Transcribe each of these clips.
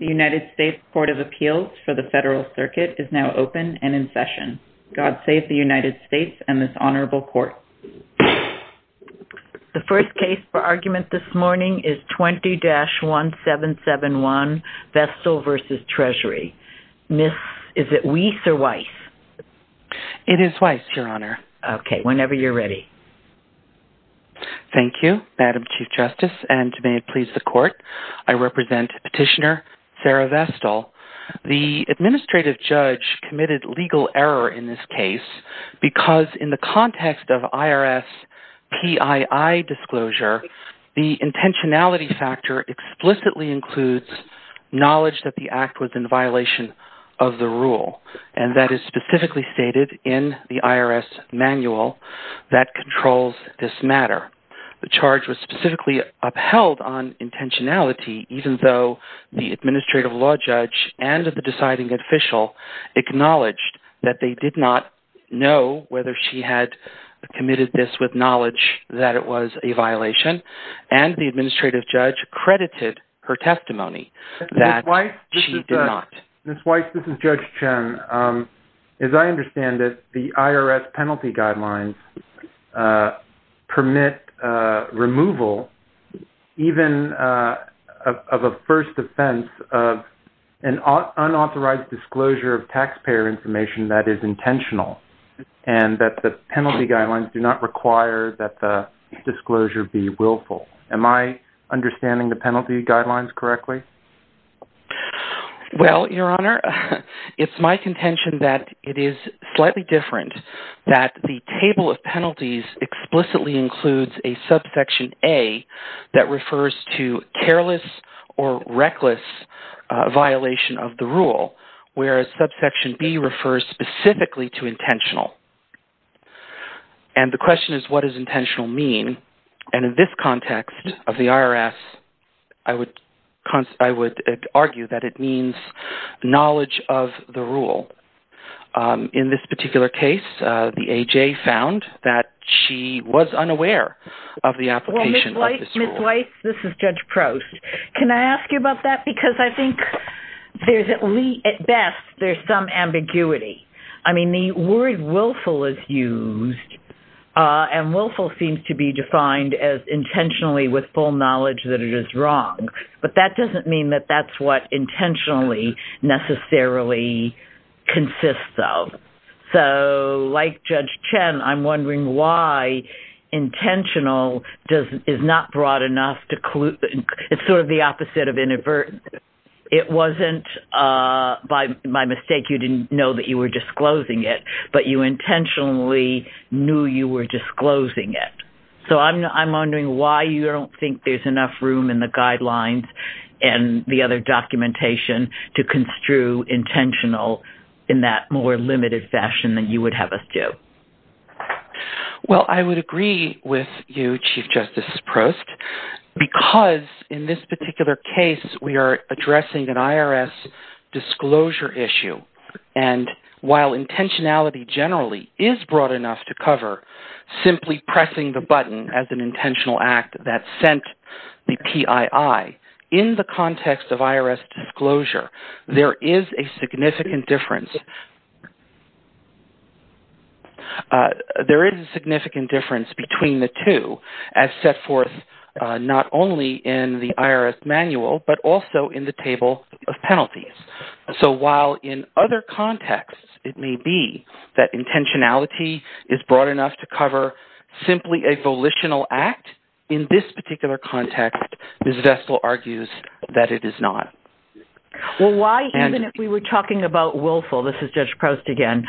The United States Court of Appeals for the Federal Circuit is now open and in session. God save the United States and this honorable court. The first case for argument this morning is 20-1771, Vestal v. Treasury. Miss, is it Weiss or Weiss? It is Weiss, Your Honor. Okay, whenever you're ready. Thank you, Madam Chief Justice, and may it please the court, I represent Petitioner Sarah Vestal. The administrative judge committed legal error in this case because in the context of IRS PII disclosure, the intentionality factor explicitly includes knowledge that the act was in violation of the rule. And that is specifically stated in the IRS manual that controls this matter. The charge was specifically upheld on intentionality even though the administrative law judge and the deciding official acknowledged that they did not know whether she had committed this with knowledge that it was a violation. And the administrative judge credited her testimony that she did not. Miss Weiss, this is Judge Chen. As I understand it, the IRS penalty guidelines permit removal even of a first offense of an unauthorized disclosure of taxpayer information that is intentional and that the penalty guidelines do not require that the disclosure be willful. Am I understanding the penalty guidelines correctly? Well, Your Honor, it's my contention that it is slightly different that the table of penalties explicitly includes a subsection A that refers to careless or reckless violation of the rule, whereas subsection B refers specifically to intentional. And the question is what does intentional mean? And in this context of the IRS, I would argue that it means knowledge of the rule. In this particular case, the A.J. found that she was unaware of the application of this rule. Miss Weiss, this is Judge Prost. Can I ask you about that because I think at best there's some ambiguity. I mean, the word willful is used and willful seems to be defined as intentionally with full knowledge that it is wrong. But that doesn't mean that that's what intentionally necessarily consists of. So like Judge Chen, I'm wondering why intentional is not broad enough to clue. It's sort of the opposite of inadvertent. It wasn't by my mistake you didn't know that you were disclosing it, but you intentionally knew you were disclosing it. So I'm wondering why you don't think there's enough room in the guidelines and the other documentation to construe intentional in that more limited fashion than you would have us do. Well, I would agree with you, Chief Justice Prost, because in this particular case we are addressing an IRS disclosure issue. And while intentionality generally is broad enough to cover simply pressing the button as an intentional act that sent the PII, in the context of IRS disclosure there is a significant difference between the two as set forth not only in the IRS manual but also in the table of penalties. So while in other contexts it may be that intentionality is broad enough to cover simply a volitional act, in this particular context Ms. Vestal argues that it is not. Well, why even if we were talking about willful, this is Judge Prost again,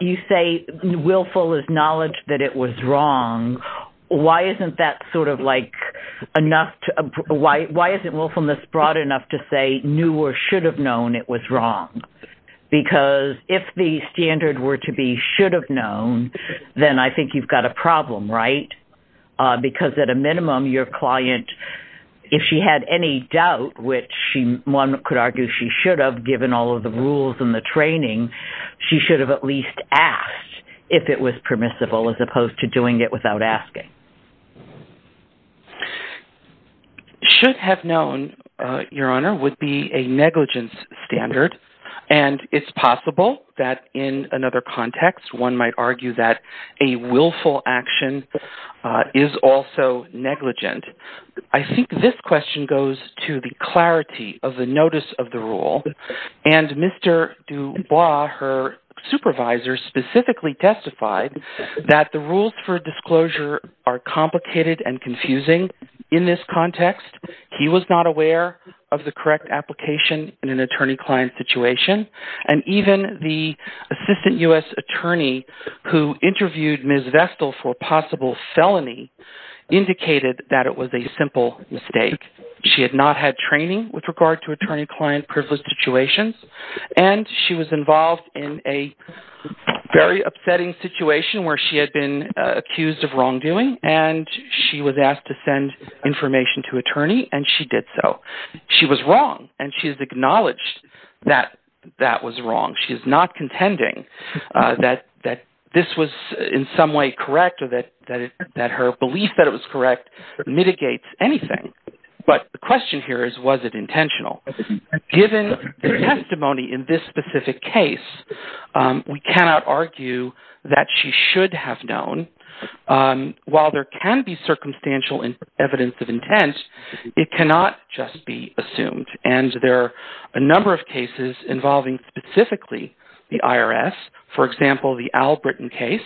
you say willful is knowledge that it was wrong. Why isn't that sort of like enough to – why isn't willfulness broad enough to say knew or should have known it was wrong? Because if the standard were to be should have known, then I think you've got a problem, right? Because at a minimum your client, if she had any doubt which one could argue she should have given all of the rules and the training, she should have at least asked if it was permissible as opposed to doing it without asking. Should have known, Your Honor, would be a negligence standard, and it's possible that in another context one might argue that a willful action is also negligent. I think this question goes to the clarity of the notice of the rule, and Mr. Dubois, her supervisor, specifically testified that the rules for disclosure are complicated and confusing in this context. He was not aware of the correct application in an attorney-client situation, and even the assistant U.S. attorney who interviewed Ms. Vestal for possible felony indicated that it was a simple mistake. She had not had training with regard to attorney-client privileged situations, and she was involved in a very upsetting situation where she had been accused of wrongdoing, and she was asked to send information to an attorney, and she did so. She was wrong, and she has acknowledged that that was wrong. She is not contending that this was in some way correct or that her belief that it was correct mitigates anything. But the question here is, was it intentional? Given the testimony in this specific case, we cannot argue that she should have known. While there can be circumstantial evidence of intent, it cannot just be assumed, and there are a number of cases involving specifically the IRS. For example, the Albritton case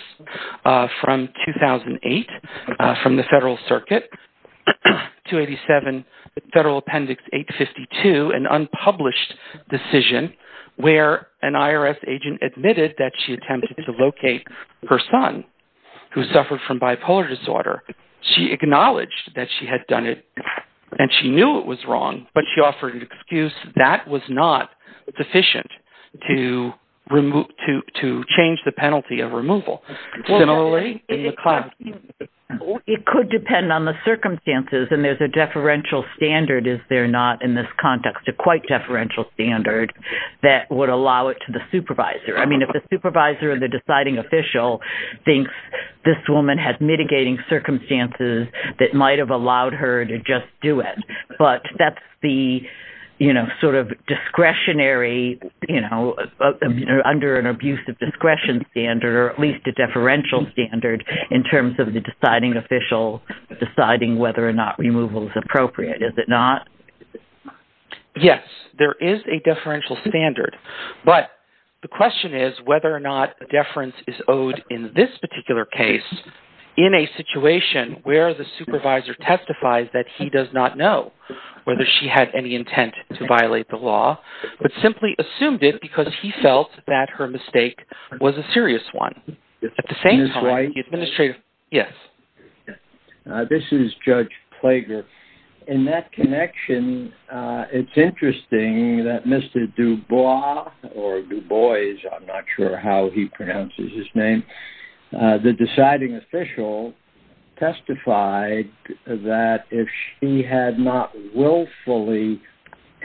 from 2008 from the Federal Circuit, 287 Federal Appendix 852, an unpublished decision where an IRS agent admitted that she attempted to locate her son who suffered from bipolar disorder. She acknowledged that she had done it, and she knew it was wrong, but she offered an excuse that was not sufficient to change the penalty of removal. It could depend on the circumstances, and there's a deferential standard, is there not, in this context, a quite deferential standard that would allow it to the supervisor? I mean, if the supervisor or the deciding official thinks this woman has mitigating circumstances that might have allowed her to just do it, but that's the discretionary, under an abuse of discretion standard, or at least a deferential standard in terms of the deciding official deciding whether or not removal is appropriate, is it not? Yes, there is a deferential standard, but the question is whether or not a deference is owed in this particular case in a situation where the supervisor testifies that he does not know whether she had any intent to violate the law, but simply assumed it because he felt that her mistake was a serious one. At the same time, the administrator... Yes. This is Judge Plager. In that connection, it's interesting that Mr. Dubois, or Dubois, I'm not sure how he pronounces his name, the deciding official testified that if she had not willfully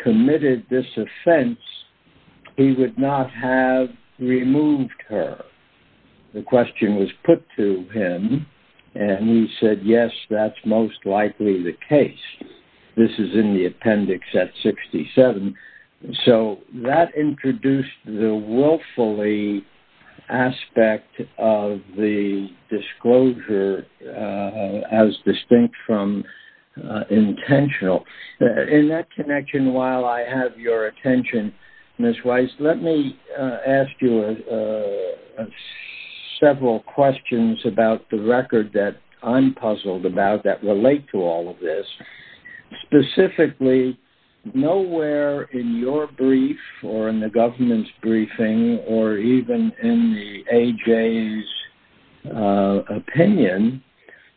committed this offense, he would not have removed her. The question was put to him, and he said, yes, that's most likely the case. This is in the appendix at 67. So that introduced the willfully aspect of the disclosure as distinct from intentional. In that connection, while I have your attention, Ms. Weiss, let me ask you several questions about the record that I'm puzzled about that relate to all of this. Specifically, nowhere in your brief, or in the government's briefing, or even in the AJ's opinion,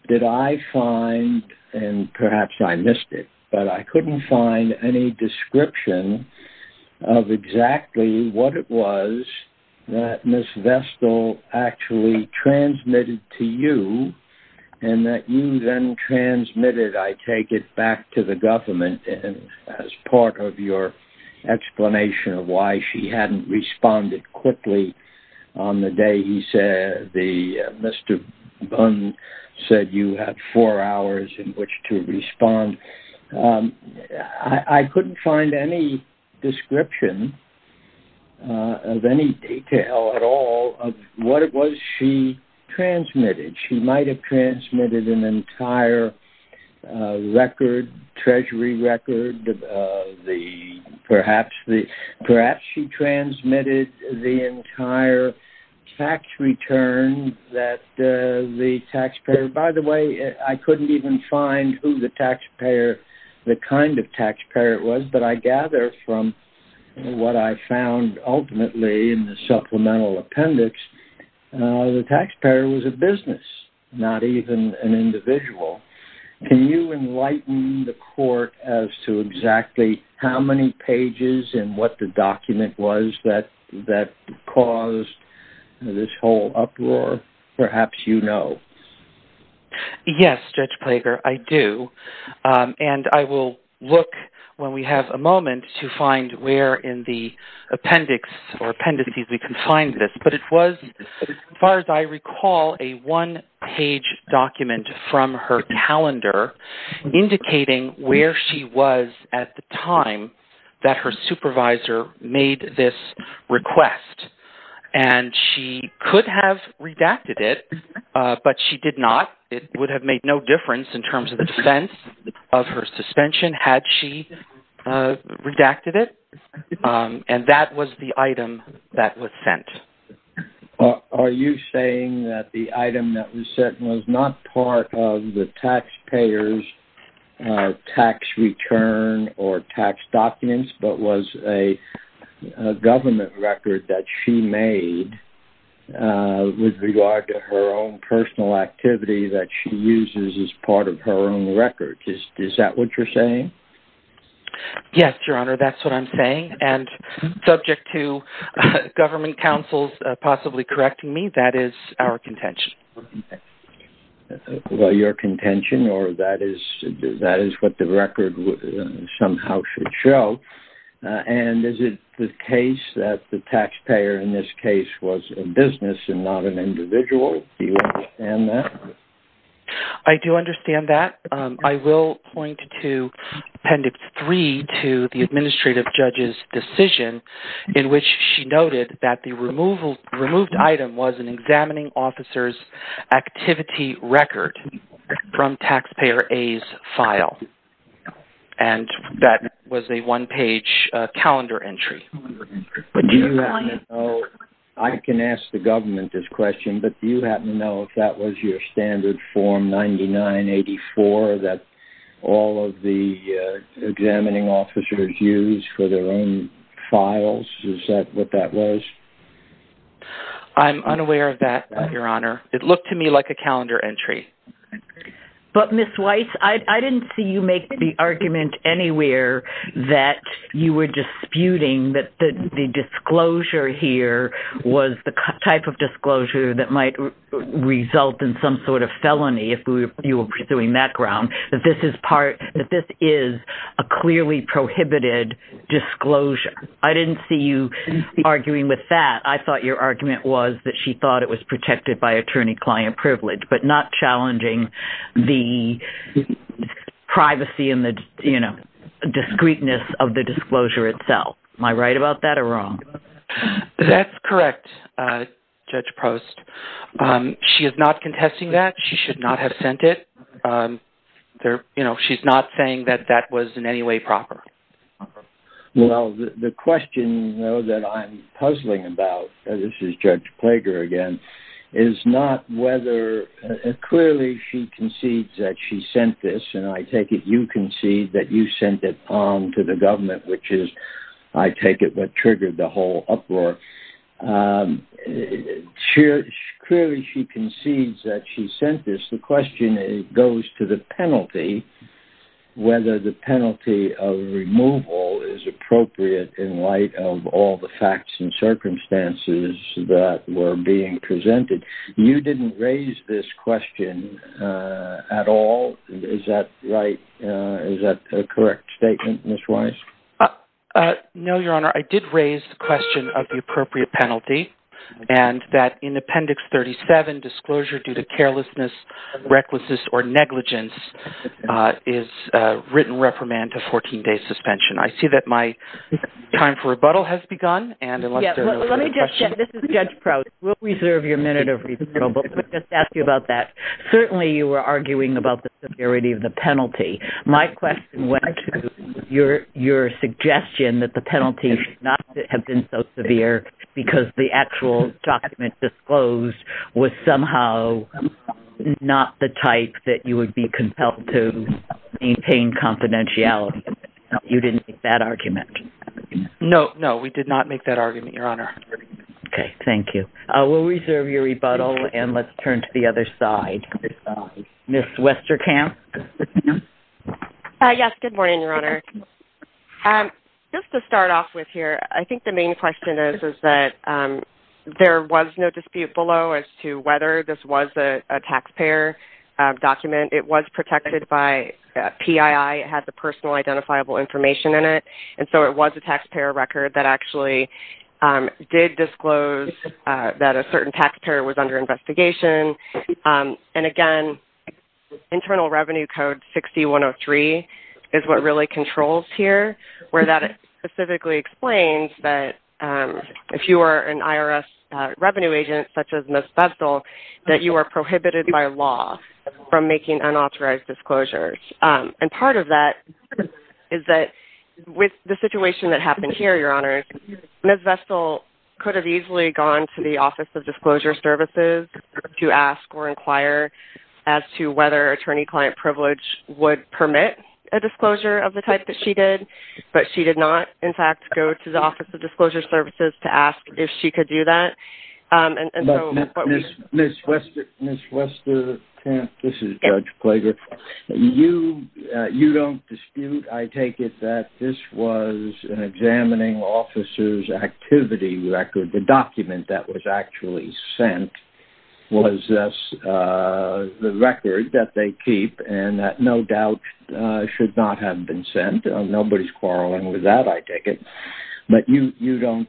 did I find, and perhaps I missed it, but I couldn't find any description of exactly what it was that Ms. Vestal actually transmitted to you, and that you then transmitted. I take it back to the government as part of your explanation of why she hadn't responded quickly on the day he said, Mr. Bunn said you had four hours in which to respond. I couldn't find any description of any detail at all of what it was she transmitted. She might have transmitted an entire record, treasury record, perhaps she transmitted the entire tax return that the taxpayer – by the way, I couldn't even find who the taxpayer, the kind of taxpayer it was. But I gather from what I found ultimately in the supplemental appendix, the taxpayer was a business, not even an individual. Can you enlighten the court as to exactly how many pages and what the document was that caused this whole uproar? Perhaps you know. Yes, Judge Plager, I do. And I will look, when we have a moment, to find where in the appendix or appendices we can find this. But it was, as far as I recall, a one-page document from her calendar indicating where she was at the time that her supervisor made this request. And she could have redacted it, but she did not. It would have made no difference in terms of the defense of her suspension had she redacted it. And that was the item that was sent. Are you saying that the item that was sent was not part of the taxpayer's tax return or tax documents, but was a government record that she made with regard to her own personal activity that she uses as part of her own record? Is that what you're saying? Yes, Your Honor, that's what I'm saying. And subject to government counsel's possibly correcting me, that is our contention. Well, your contention, or that is what the record somehow should show. And is it the case that the taxpayer in this case was a business and not an individual? Do you understand that? I do understand that. I will point to Appendix 3 to the Administrative Judge's decision in which she noted that the removed item was an examining officer's activity record from Taxpayer A's file. And that was a one-page calendar entry. I can ask the government this question, but do you happen to know if that was your standard Form 9984 that all of the examining officers use for their own files? Is that what that was? I'm unaware of that, Your Honor. It looked to me like a calendar entry. But, Ms. Weiss, I didn't see you make the argument anywhere that you were disputing that the disclosure here was the type of disclosure that might result in some sort of felony, if you were pursuing that ground, that this is a clearly prohibited disclosure. I didn't see you arguing with that. I thought your argument was that she thought it was protected by attorney-client privilege, but not challenging the privacy and the discreteness of the disclosure itself. Am I right about that or wrong? That's correct, Judge Post. She is not contesting that. She should not have sent it. She's not saying that that was in any way proper. Well, the question, though, that I'm puzzling about, and this is Judge Plager again, is not whether, clearly she concedes that she sent this, and I take it you concede that you sent it on to the government, which is, I take it, what triggered the whole uproar. Clearly she concedes that she sent this. The question goes to the penalty, whether the penalty of removal is appropriate in light of all the facts and circumstances that were being presented. You didn't raise this question at all. Is that right? Is that a correct statement, Ms. Weiss? No, Your Honor. I did raise the question of the appropriate penalty, and that in Appendix 37, disclosure due to carelessness, recklessness, or negligence is written reprimand to 14 days suspension. I see that my time for rebuttal has begun. This is Judge Post. We'll reserve your minute of rebuttal, but let me just ask you about that. Certainly you were arguing about the severity of the penalty. My question went to your suggestion that the penalty should not have been so severe because the actual document disclosed was somehow not the type that you would be compelled to maintain confidentiality. You didn't make that argument. No, we did not make that argument, Your Honor. Okay, thank you. We'll reserve your rebuttal, and let's turn to the other side. Ms. Westerkamp? Yes, good morning, Your Honor. Just to start off with here, I think the main question is that there was no dispute below as to whether this was a taxpayer document. It was protected by PII. It had the personal identifiable information in it. It was a taxpayer record that actually did disclose that a certain taxpayer was under investigation. Again, Internal Revenue Code 6103 is what really controls here, where that specifically explains that if you are an IRS revenue agent, such as Ms. Bessel, that you are prohibited by law from making unauthorized disclosures. And part of that is that with the situation that happened here, Your Honor, Ms. Bessel could have easily gone to the Office of Disclosure Services to ask or inquire as to whether attorney-client privilege would permit a disclosure of the type that she did, but she did not, in fact, go to the Office of Disclosure Services to ask if she could do that. Ms. Westerkamp, this is Judge Plager. You don't dispute, I take it, that this was an examining officer's activity record. The document that was actually sent was the record that they keep and that no doubt should not have been sent. Nobody's quarreling with that, I take it. But you don't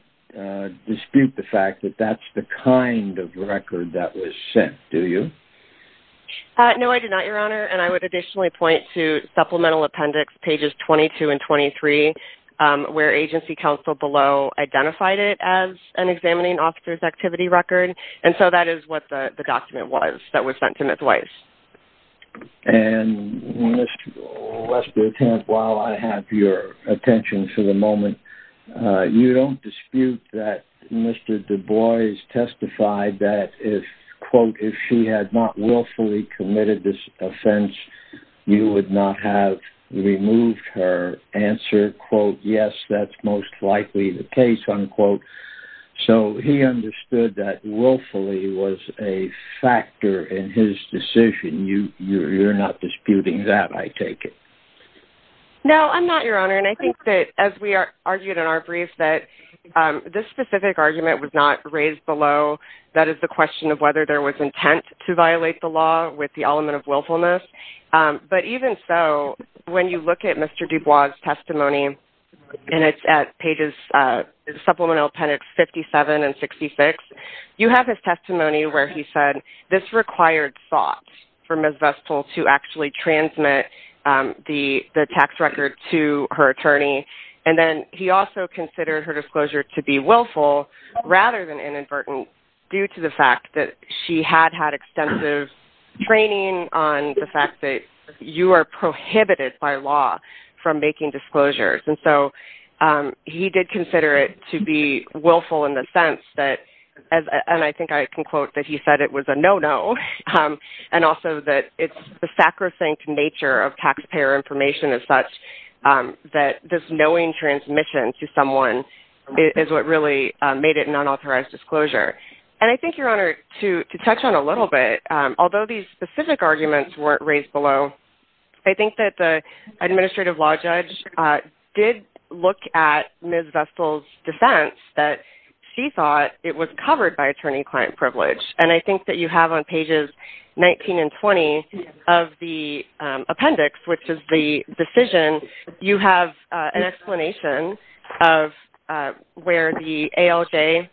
dispute the fact that that's the kind of record that was sent, do you? No, I do not, Your Honor, and I would additionally point to Supplemental Appendix pages 22 and 23, where Agency Counsel below identified it as an examining officer's activity record, and so that is what the document was that was sent to Ms. Weiss. And Ms. Westerkamp, while I have your attention for the moment, you don't dispute that Mr. Du Bois testified that if, quote, if she had not willfully committed this offense, you would not have removed her answer, quote, yes, that's most likely the case, unquote. So he understood that willfully was a factor in his decision. You're not disputing that, I take it. No, I'm not, Your Honor, and I think that as we argued in our brief that this specific argument was not raised below. That is the question of whether there was intent to violate the law with the element of willfulness. But even so, when you look at Mr. Du Bois' testimony, and it's at pages, Supplemental Appendix 57 and 66, you have his testimony where he said this required thought for Ms. Vestal to actually transmit the tax record to her attorney. And then he also considered her disclosure to be willful rather than inadvertent due to the fact that she had had extensive training on the fact that you are prohibited by law from making disclosures. And so he did consider it to be willful in the sense that, and I think I can quote that he said it was a no-no, and also that it's the sacrosanct nature of taxpayer information as such that this knowing transmission to someone is what really made it an unauthorized disclosure. And I think, Your Honor, to touch on a little bit, although these specific arguments weren't raised below, I think that the administrative law judge did look at Ms. Vestal's defense that she thought it was covered by attorney-client privilege. And I think that you have on pages 19 and 20 of the appendix, which is the decision, you have an explanation of where the ALJ,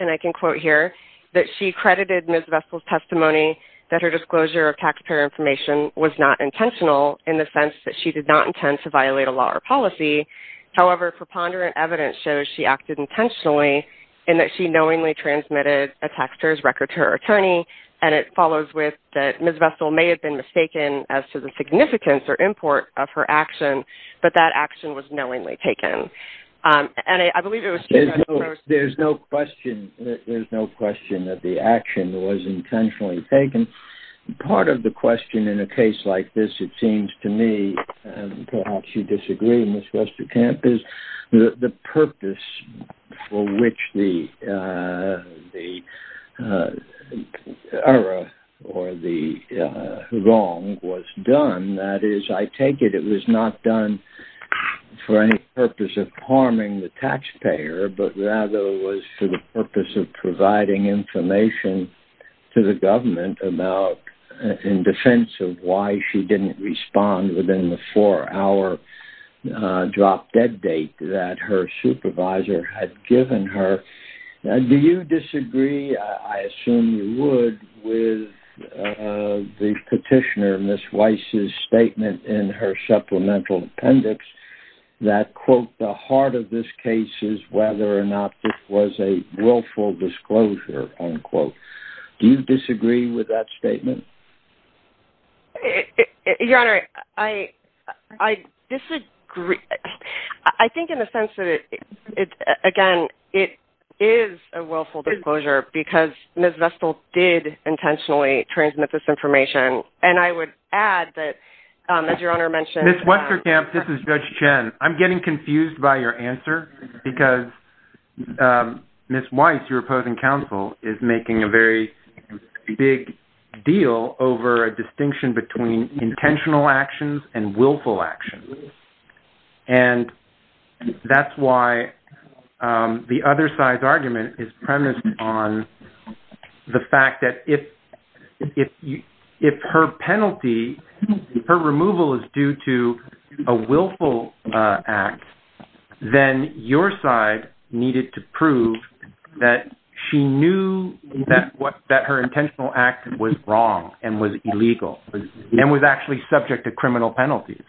and I can quote here, that she credited Ms. Vestal's testimony that her disclosure of taxpayer information was not intentional in the sense that she did not intend to violate a law or policy. However, preponderant evidence shows she acted intentionally in that she knowingly transmitted a taxpayer's record to her attorney, and it follows with that Ms. Vestal may have been mistaken as to the significance or import of her action, but that action was knowingly taken. There's no question that the action was intentionally taken. Part of the question in a case like this, it seems to me, and perhaps you disagree, Ms. Westerkamp, is the purpose for which the error or the wrong was done. And that is, I take it it was not done for any purpose of harming the taxpayer, but rather was for the purpose of providing information to the government about, in defense of why she didn't respond within the four-hour drop-dead date that her supervisor had given her. Do you disagree, I assume you would, with the petitioner, Ms. Weiss' statement in her supplemental appendix that, quote, the heart of this case is whether or not this was a willful disclosure, unquote. Do you disagree with that statement? Your Honor, I disagree. I think in the sense that, again, it is a willful disclosure because Ms. Vestal did intentionally transmit this information, and I would add that, as Your Honor mentioned... Ms. Westerkamp, this is Judge Chen. I'm getting confused by your answer because Ms. Weiss, your opposing counsel, is making a very big deal over a distinction between intentional actions and willful actions. And that's why the other side's argument is premised on the fact that if her penalty, her removal is due to a willful act, then your side needed to prove that she knew that her intentional act was wrong and was illegal and was actually subject to criminal penalties.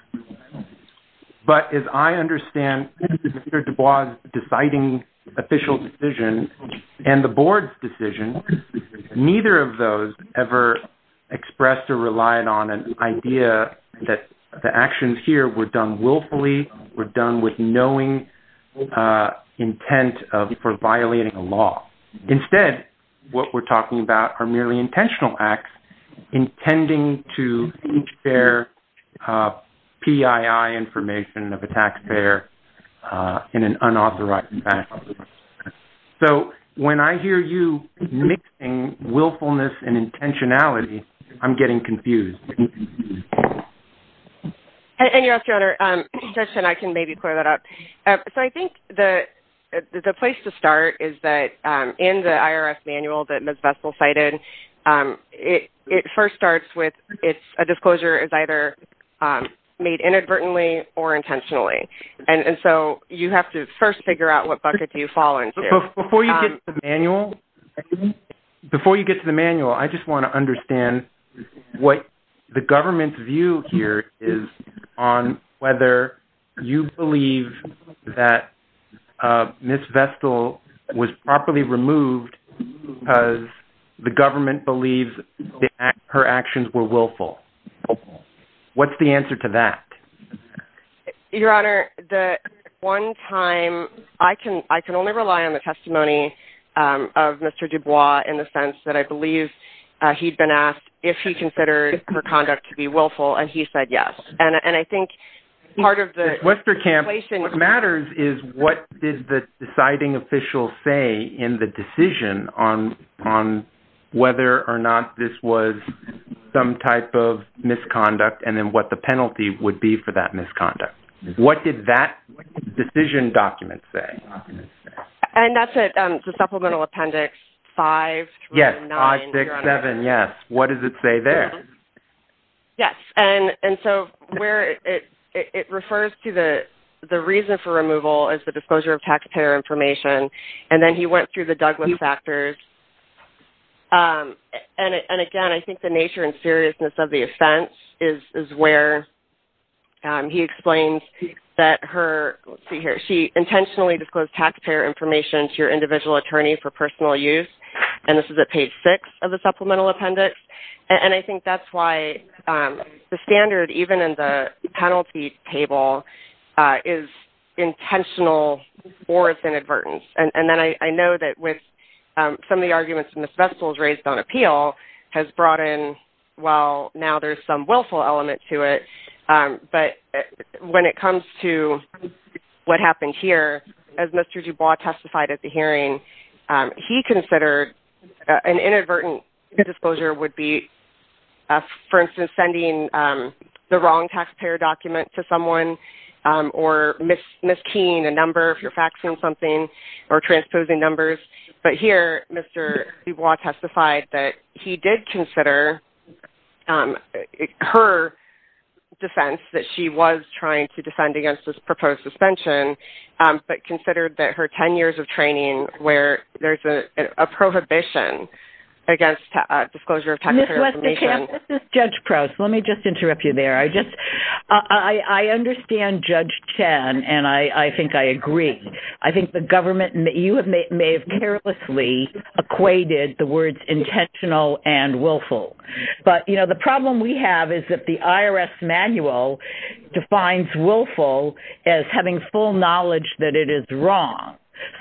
But as I understand Mr. Dubois' deciding official decision and the board's decision, neither of those ever expressed or relied on an idea that the actions here were done willfully, were done with knowing intent for violating a law. Instead, what we're talking about are merely intentional acts intending to transfer PII information of a taxpayer in an unauthorized manner. So when I hear you mixing willfulness and intentionality, I'm getting confused. And Your Honor, Judge Chen, I can maybe clear that up. So I think the place to start is that in the IRS manual that Ms. Vestal cited, it first starts with a disclosure as either made inadvertently or intentionally. And so you have to first figure out what bucket you fall into. Before you get to the manual, I just want to understand what the government's view here is on whether you believe that Ms. Vestal was properly removed because the government believes her actions were willful. What's the answer to that? Your Honor, at one time, I can only rely on the testimony of Mr. Dubois in the sense that I believe he'd been asked if he considered her conduct to be willful, and he said yes. Ms. Westerkamp, what matters is what did the deciding official say in the decision on whether or not this was some type of misconduct, and then what the penalty would be for that misconduct. What did that decision document say? And that's the Supplemental Appendix 5 through 9, Your Honor. Yes, 5, 6, 7, yes. What does it say there? Yes, and so where it refers to the reason for removal is the disclosure of taxpayer information, and then he went through the Douglas factors. And again, I think the nature and seriousness of the offense is where he explains that her, let's see here, she intentionally disclosed taxpayer information to your individual attorney for personal use, and this is at page 6 of the Supplemental Appendix. And I think that's why the standard, even in the penalty table, is intentional or it's inadvertent. And then I know that with some of the arguments Ms. Vestal has raised on appeal has brought in, well, now there's some willful element to it, but when it comes to what happened here, as Mr. Dubois testified at the hearing, he considered an inadvertent disclosure would be, for instance, sending the wrong taxpayer document to someone or mis-keying a number if you're faxing something or transposing numbers. But here, Mr. Dubois testified that he did consider her defense that she was trying to defend against this proposed suspension, but considered that her 10 years of training where there's a prohibition against disclosure of taxpayer information. Judge Proust, let me just interrupt you there. I understand Judge Chan, and I think I agree. I think the government may have carelessly equated the words intentional and willful. But, you know, the problem we have is that the IRS manual defines willful as having full knowledge that it is wrong.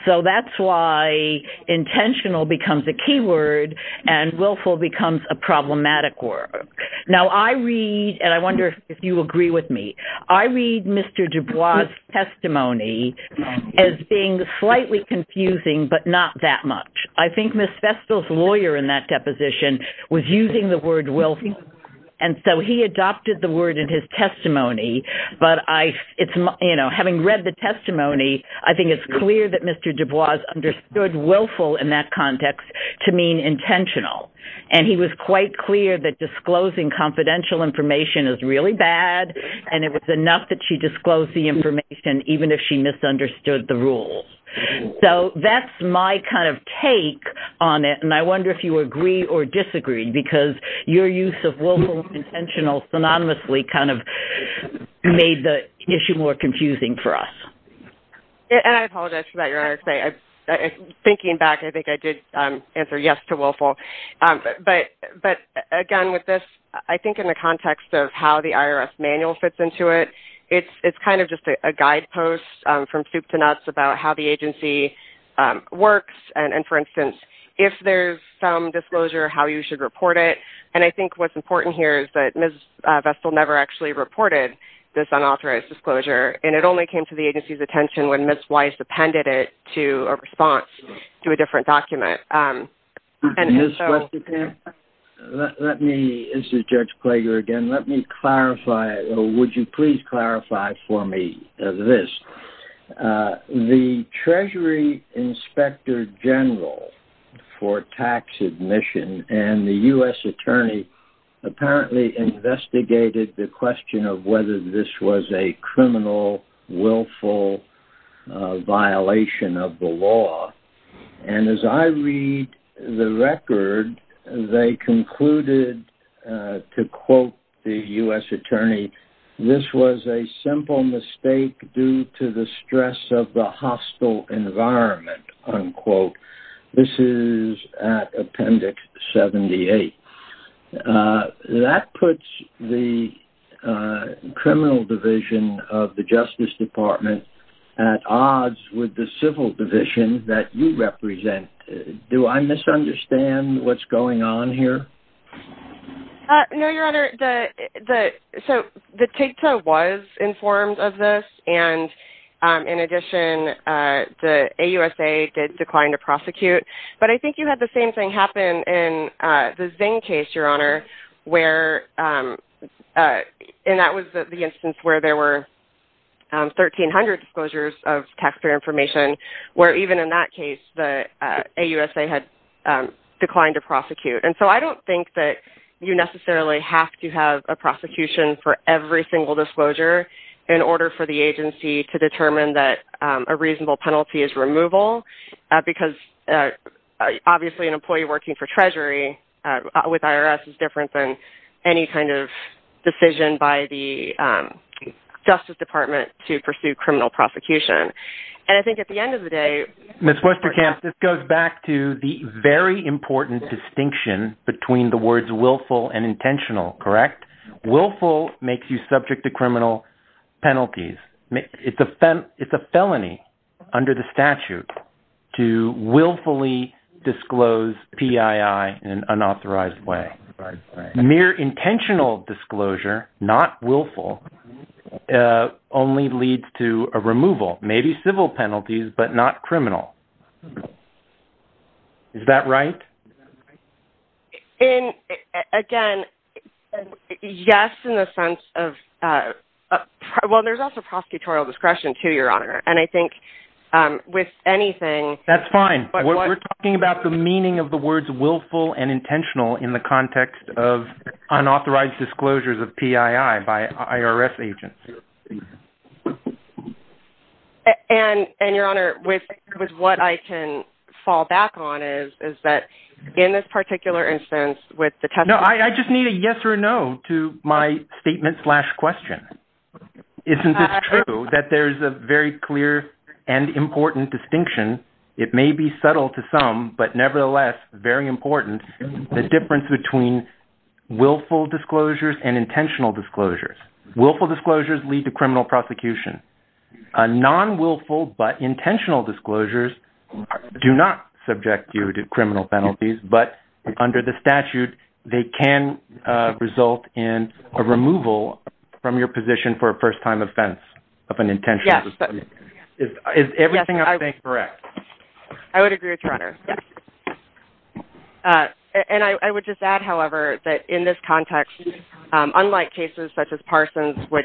So that's why intentional becomes a key word and willful becomes a problematic word. Now, I read, and I wonder if you agree with me, I read Mr. Dubois' testimony as being slightly confusing, but not that much. I think Ms. Vestal's lawyer in that deposition was using the word willful, and so he adopted the word in his testimony. But having read the testimony, I think it's clear that Mr. Dubois understood willful in that context to mean intentional. And he was quite clear that disclosing confidential information is really bad, and it was enough that she disclosed the information even if she misunderstood the rules. So that's my kind of take on it, and I wonder if you agree or disagree, because your use of willful and intentional synonymously kind of made the issue more confusing for us. And I apologize for that, Your Honor. Thinking back, I think I did answer yes to willful. But again, with this, I think in the context of how the IRS manual fits into it, it's kind of just a guidepost from soup to nuts about how the agency works. And for instance, if there's some disclosure, how you should report it. And I think what's important here is that Ms. Vestal never actually reported this unauthorized disclosure, and it only came to the agency's attention when Ms. Weiss appended it to a response to a different document. Ms. Vestal, can I? This is Judge Klager again. Let me clarify. Would you please clarify for me this? The Treasury Inspector General for Tax Admission and the U.S. Attorney apparently investigated the question of whether this was a criminal, willful violation of the law. And as I read the record, they concluded, to quote the U.S. Attorney, this was a simple mistake due to the stress of the hostile environment, unquote. This is at Appendix 78. That puts the criminal division of the Justice Department at odds with the civil division that you represent. Do I misunderstand what's going on here? No, Your Honor. So the TIGTA was informed of this, and in addition, the AUSA did decline to prosecute. But I think you had the same thing happen in the Zing case, Your Honor, and that was the instance where there were 1,300 disclosures of taxpayer information, where even in that case, the AUSA had declined to prosecute. And so I don't think that you necessarily have to have a prosecution for every single disclosure in order for the agency to determine that a reasonable penalty is removal, because obviously an employee working for Treasury with IRS is different than any kind of decision by the Justice Department to pursue criminal prosecution. And I think at the end of the day— Ms. Westerkamp, this goes back to the very important distinction between the words willful and intentional, correct? Willful makes you subject to criminal penalties. It's a felony under the statute to willfully disclose PII in an unauthorized way. Mere intentional disclosure, not willful, only leads to a removal. Maybe civil penalties, but not criminal. Is that right? Again, yes, in the sense of—well, there's also prosecutorial discretion, too, Your Honor. And I think with anything— That's fine. We're talking about the meaning of the words willful and intentional in the context of unauthorized disclosures of PII by IRS agents. And, Your Honor, with what I can fall back on is that in this particular instance with the testimony— No, I just need a yes or a no to my statement slash question. Isn't this true that there's a very clear and important distinction? It may be subtle to some, but nevertheless very important, the difference between willful disclosures and intentional disclosures. Willful disclosures lead to criminal prosecution. Non-willful but intentional disclosures do not subject you to criminal penalties. But under the statute, they can result in a removal from your position for a first-time offense of an intentional disclosure. Yes. Is everything I'm saying correct? I would agree with you, Your Honor. And I would just add, however, that in this context, unlike cases such as Parsons, which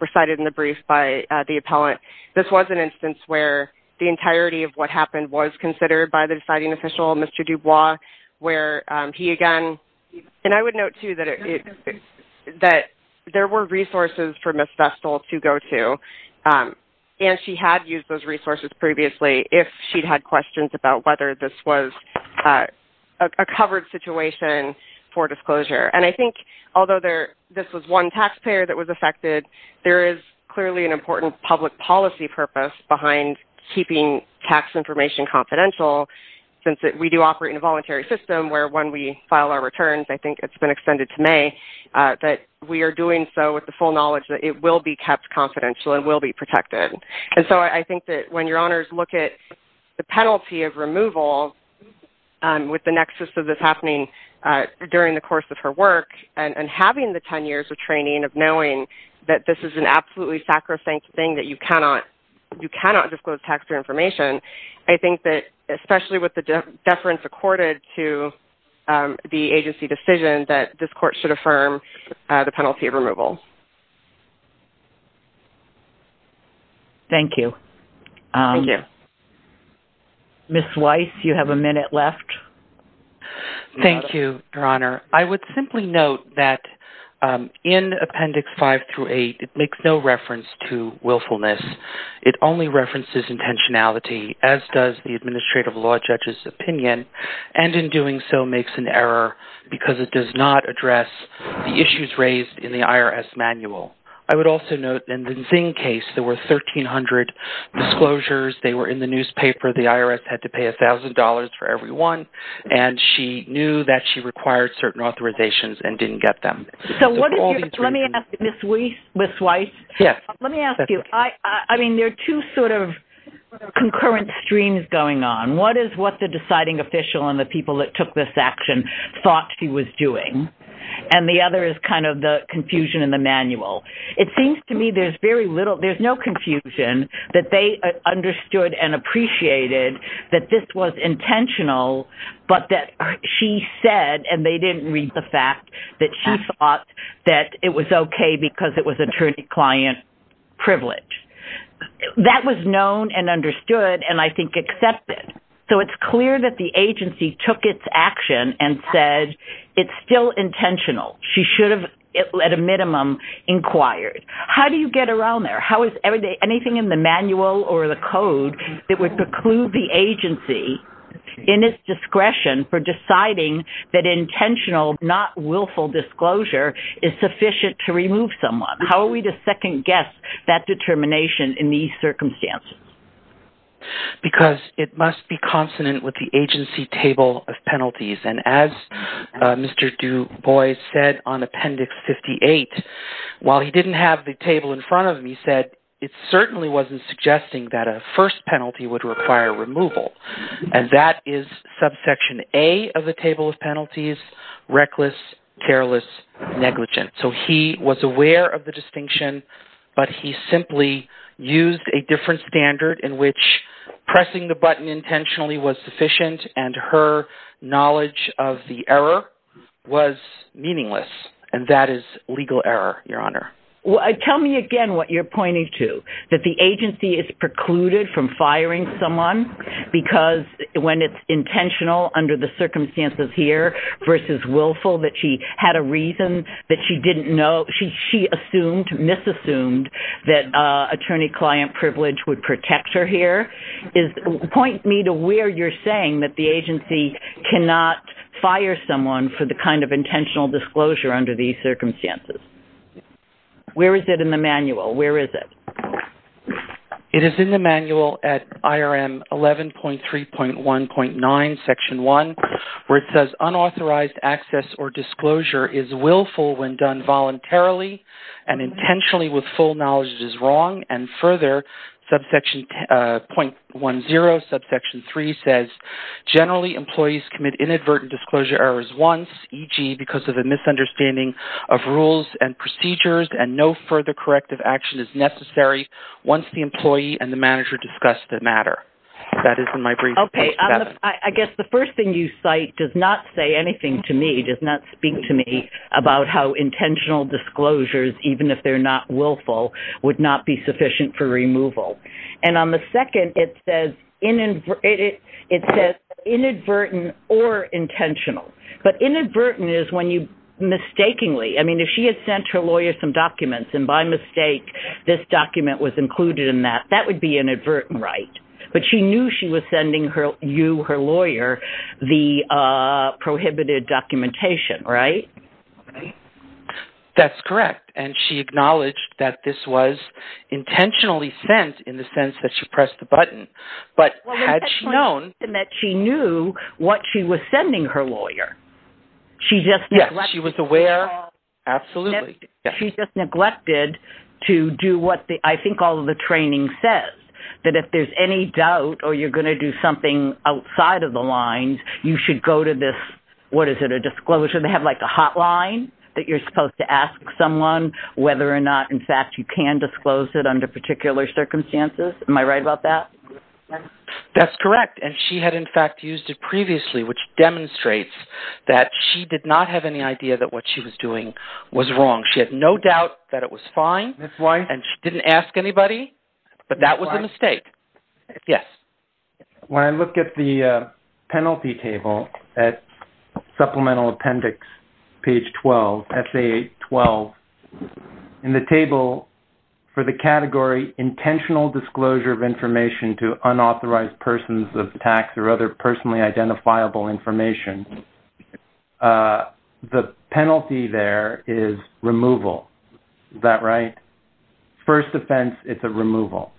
recited in the brief by the appellant, this was an instance where the entirety of what happened was considered by the deciding official, Mr. Dubois, where he, again— And I would note, too, that there were resources for Ms. Vestal to go to. And she had used those resources previously if she'd had questions about whether this was a covered situation for disclosure. And I think, although this was one taxpayer that was affected, there is clearly an important public policy purpose behind keeping tax information confidential, since we do operate in a voluntary system where when we file our returns, I think it's been extended to May, that we are doing so with the full knowledge that it will be kept confidential and will be protected. And so I think that when Your Honors look at the penalty of removal with the nexus of this happening during the course of her work and having the 10 years of training of knowing that this is an absolutely sacrosanct thing that you cannot disclose taxpayer information, I think that, especially with the deference accorded to the agency decision, that this court should affirm the penalty of removal. Thank you. Thank you. Ms. Weiss, you have a minute left. Thank you, Your Honor. I would simply note that in Appendix 5 through 8, it makes no reference to willfulness. It only references intentionality, as does the Administrative Law Judge's opinion, and in doing so makes an error because it does not address the issues raised in the IRS manual. I would also note in the Zing case, there were 1,300 disclosures. They were in the newspaper. The IRS had to pay $1,000 for every one, and she knew that she required certain authorizations and didn't get them. Let me ask you, Ms. Weiss, let me ask you, I mean, there are two sort of concurrent streams going on. One is what the deciding official and the people that took this action thought she was doing, and the other is kind of the confusion in the manual. It seems to me there's very little, there's no confusion that they understood and appreciated that this was intentional, but that she said, and they didn't read the fact, that she thought that it was okay because it was attorney-client privilege. That was known and understood, and I think accepted. So it's clear that the agency took its action and said it's still intentional. She should have, at a minimum, inquired. How do you get around there? How is anything in the manual or the code that would preclude the agency in its discretion for deciding that intentional, not willful disclosure is sufficient to remove someone? How are we to second-guess that determination in these circumstances? Because it must be consonant with the agency table of penalties, and as Mr. Dubois said on Appendix 58, while he didn't have the table in front of him, he said it certainly wasn't suggesting that a first penalty would require removal. And that is subsection A of the table of penalties, reckless, careless, negligent. So he was aware of the distinction, but he simply used a different standard in which pressing the button intentionally was sufficient, and her knowledge of the error was meaningless, and that is legal error, Your Honor. Tell me again what you're pointing to, that the agency is precluded from firing someone because when it's intentional under the circumstances here versus willful, that she had a reason that she didn't know. She assumed, misassumed, that attorney-client privilege would protect her here. Point me to where you're saying that the agency cannot fire someone for the kind of intentional disclosure under these circumstances. Where is it in the manual? Where is it? It is in the manual at IRM 11.3.1.9, Section 1, where it says, Unauthorized access or disclosure is willful when done voluntarily and intentionally with full knowledge it is wrong, and further, subsection .10, subsection 3 says, Generally, employees commit inadvertent disclosure errors once, e.g., because of a misunderstanding of rules and procedures, and no further corrective action is necessary once the employee and the manager discuss the matter. That is in my brief. Okay. I guess the first thing you cite does not say anything to me, does not speak to me, about how intentional disclosures, even if they're not willful, would not be sufficient for removal. And on the second, it says inadvertent or intentional. But inadvertent is when you mistakenly, I mean, if she had sent her lawyer some documents, and by mistake this document was included in that, that would be inadvertent, right? But she knew she was sending you, her lawyer, the prohibited documentation, right? That's correct. And she acknowledged that this was intentionally sent in the sense that she pressed the button. But had she known that she knew what she was sending her lawyer? Yes, she was aware. Absolutely. She just neglected to do what I think all of the training says, that if there's any doubt or you're going to do something outside of the lines, you should go to this, what is it, a disclosure? They have like a hotline that you're supposed to ask someone whether or not, in fact, you can disclose it under particular circumstances. Am I right about that? That's correct. And she had, in fact, used it previously, which demonstrates that she did not have any idea that what she was doing was wrong. She had no doubt that it was fine. Ms. Weiss? And she didn't ask anybody, but that was a mistake. Yes? When I look at the penalty table at supplemental appendix page 12, essay 12, in the table for the category intentional disclosure of information to unauthorized persons of tax or other personally identifiable information, the penalty there is removal. Is that right? First offense, it's a removal.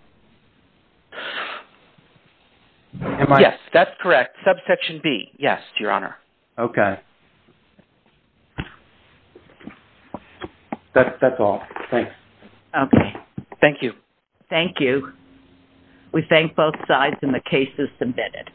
Yes, that's correct. Subsection B, yes, Your Honor. Okay. That's all. Thanks. Okay. Thank you. Thank you. We thank both sides, and the case is submitted.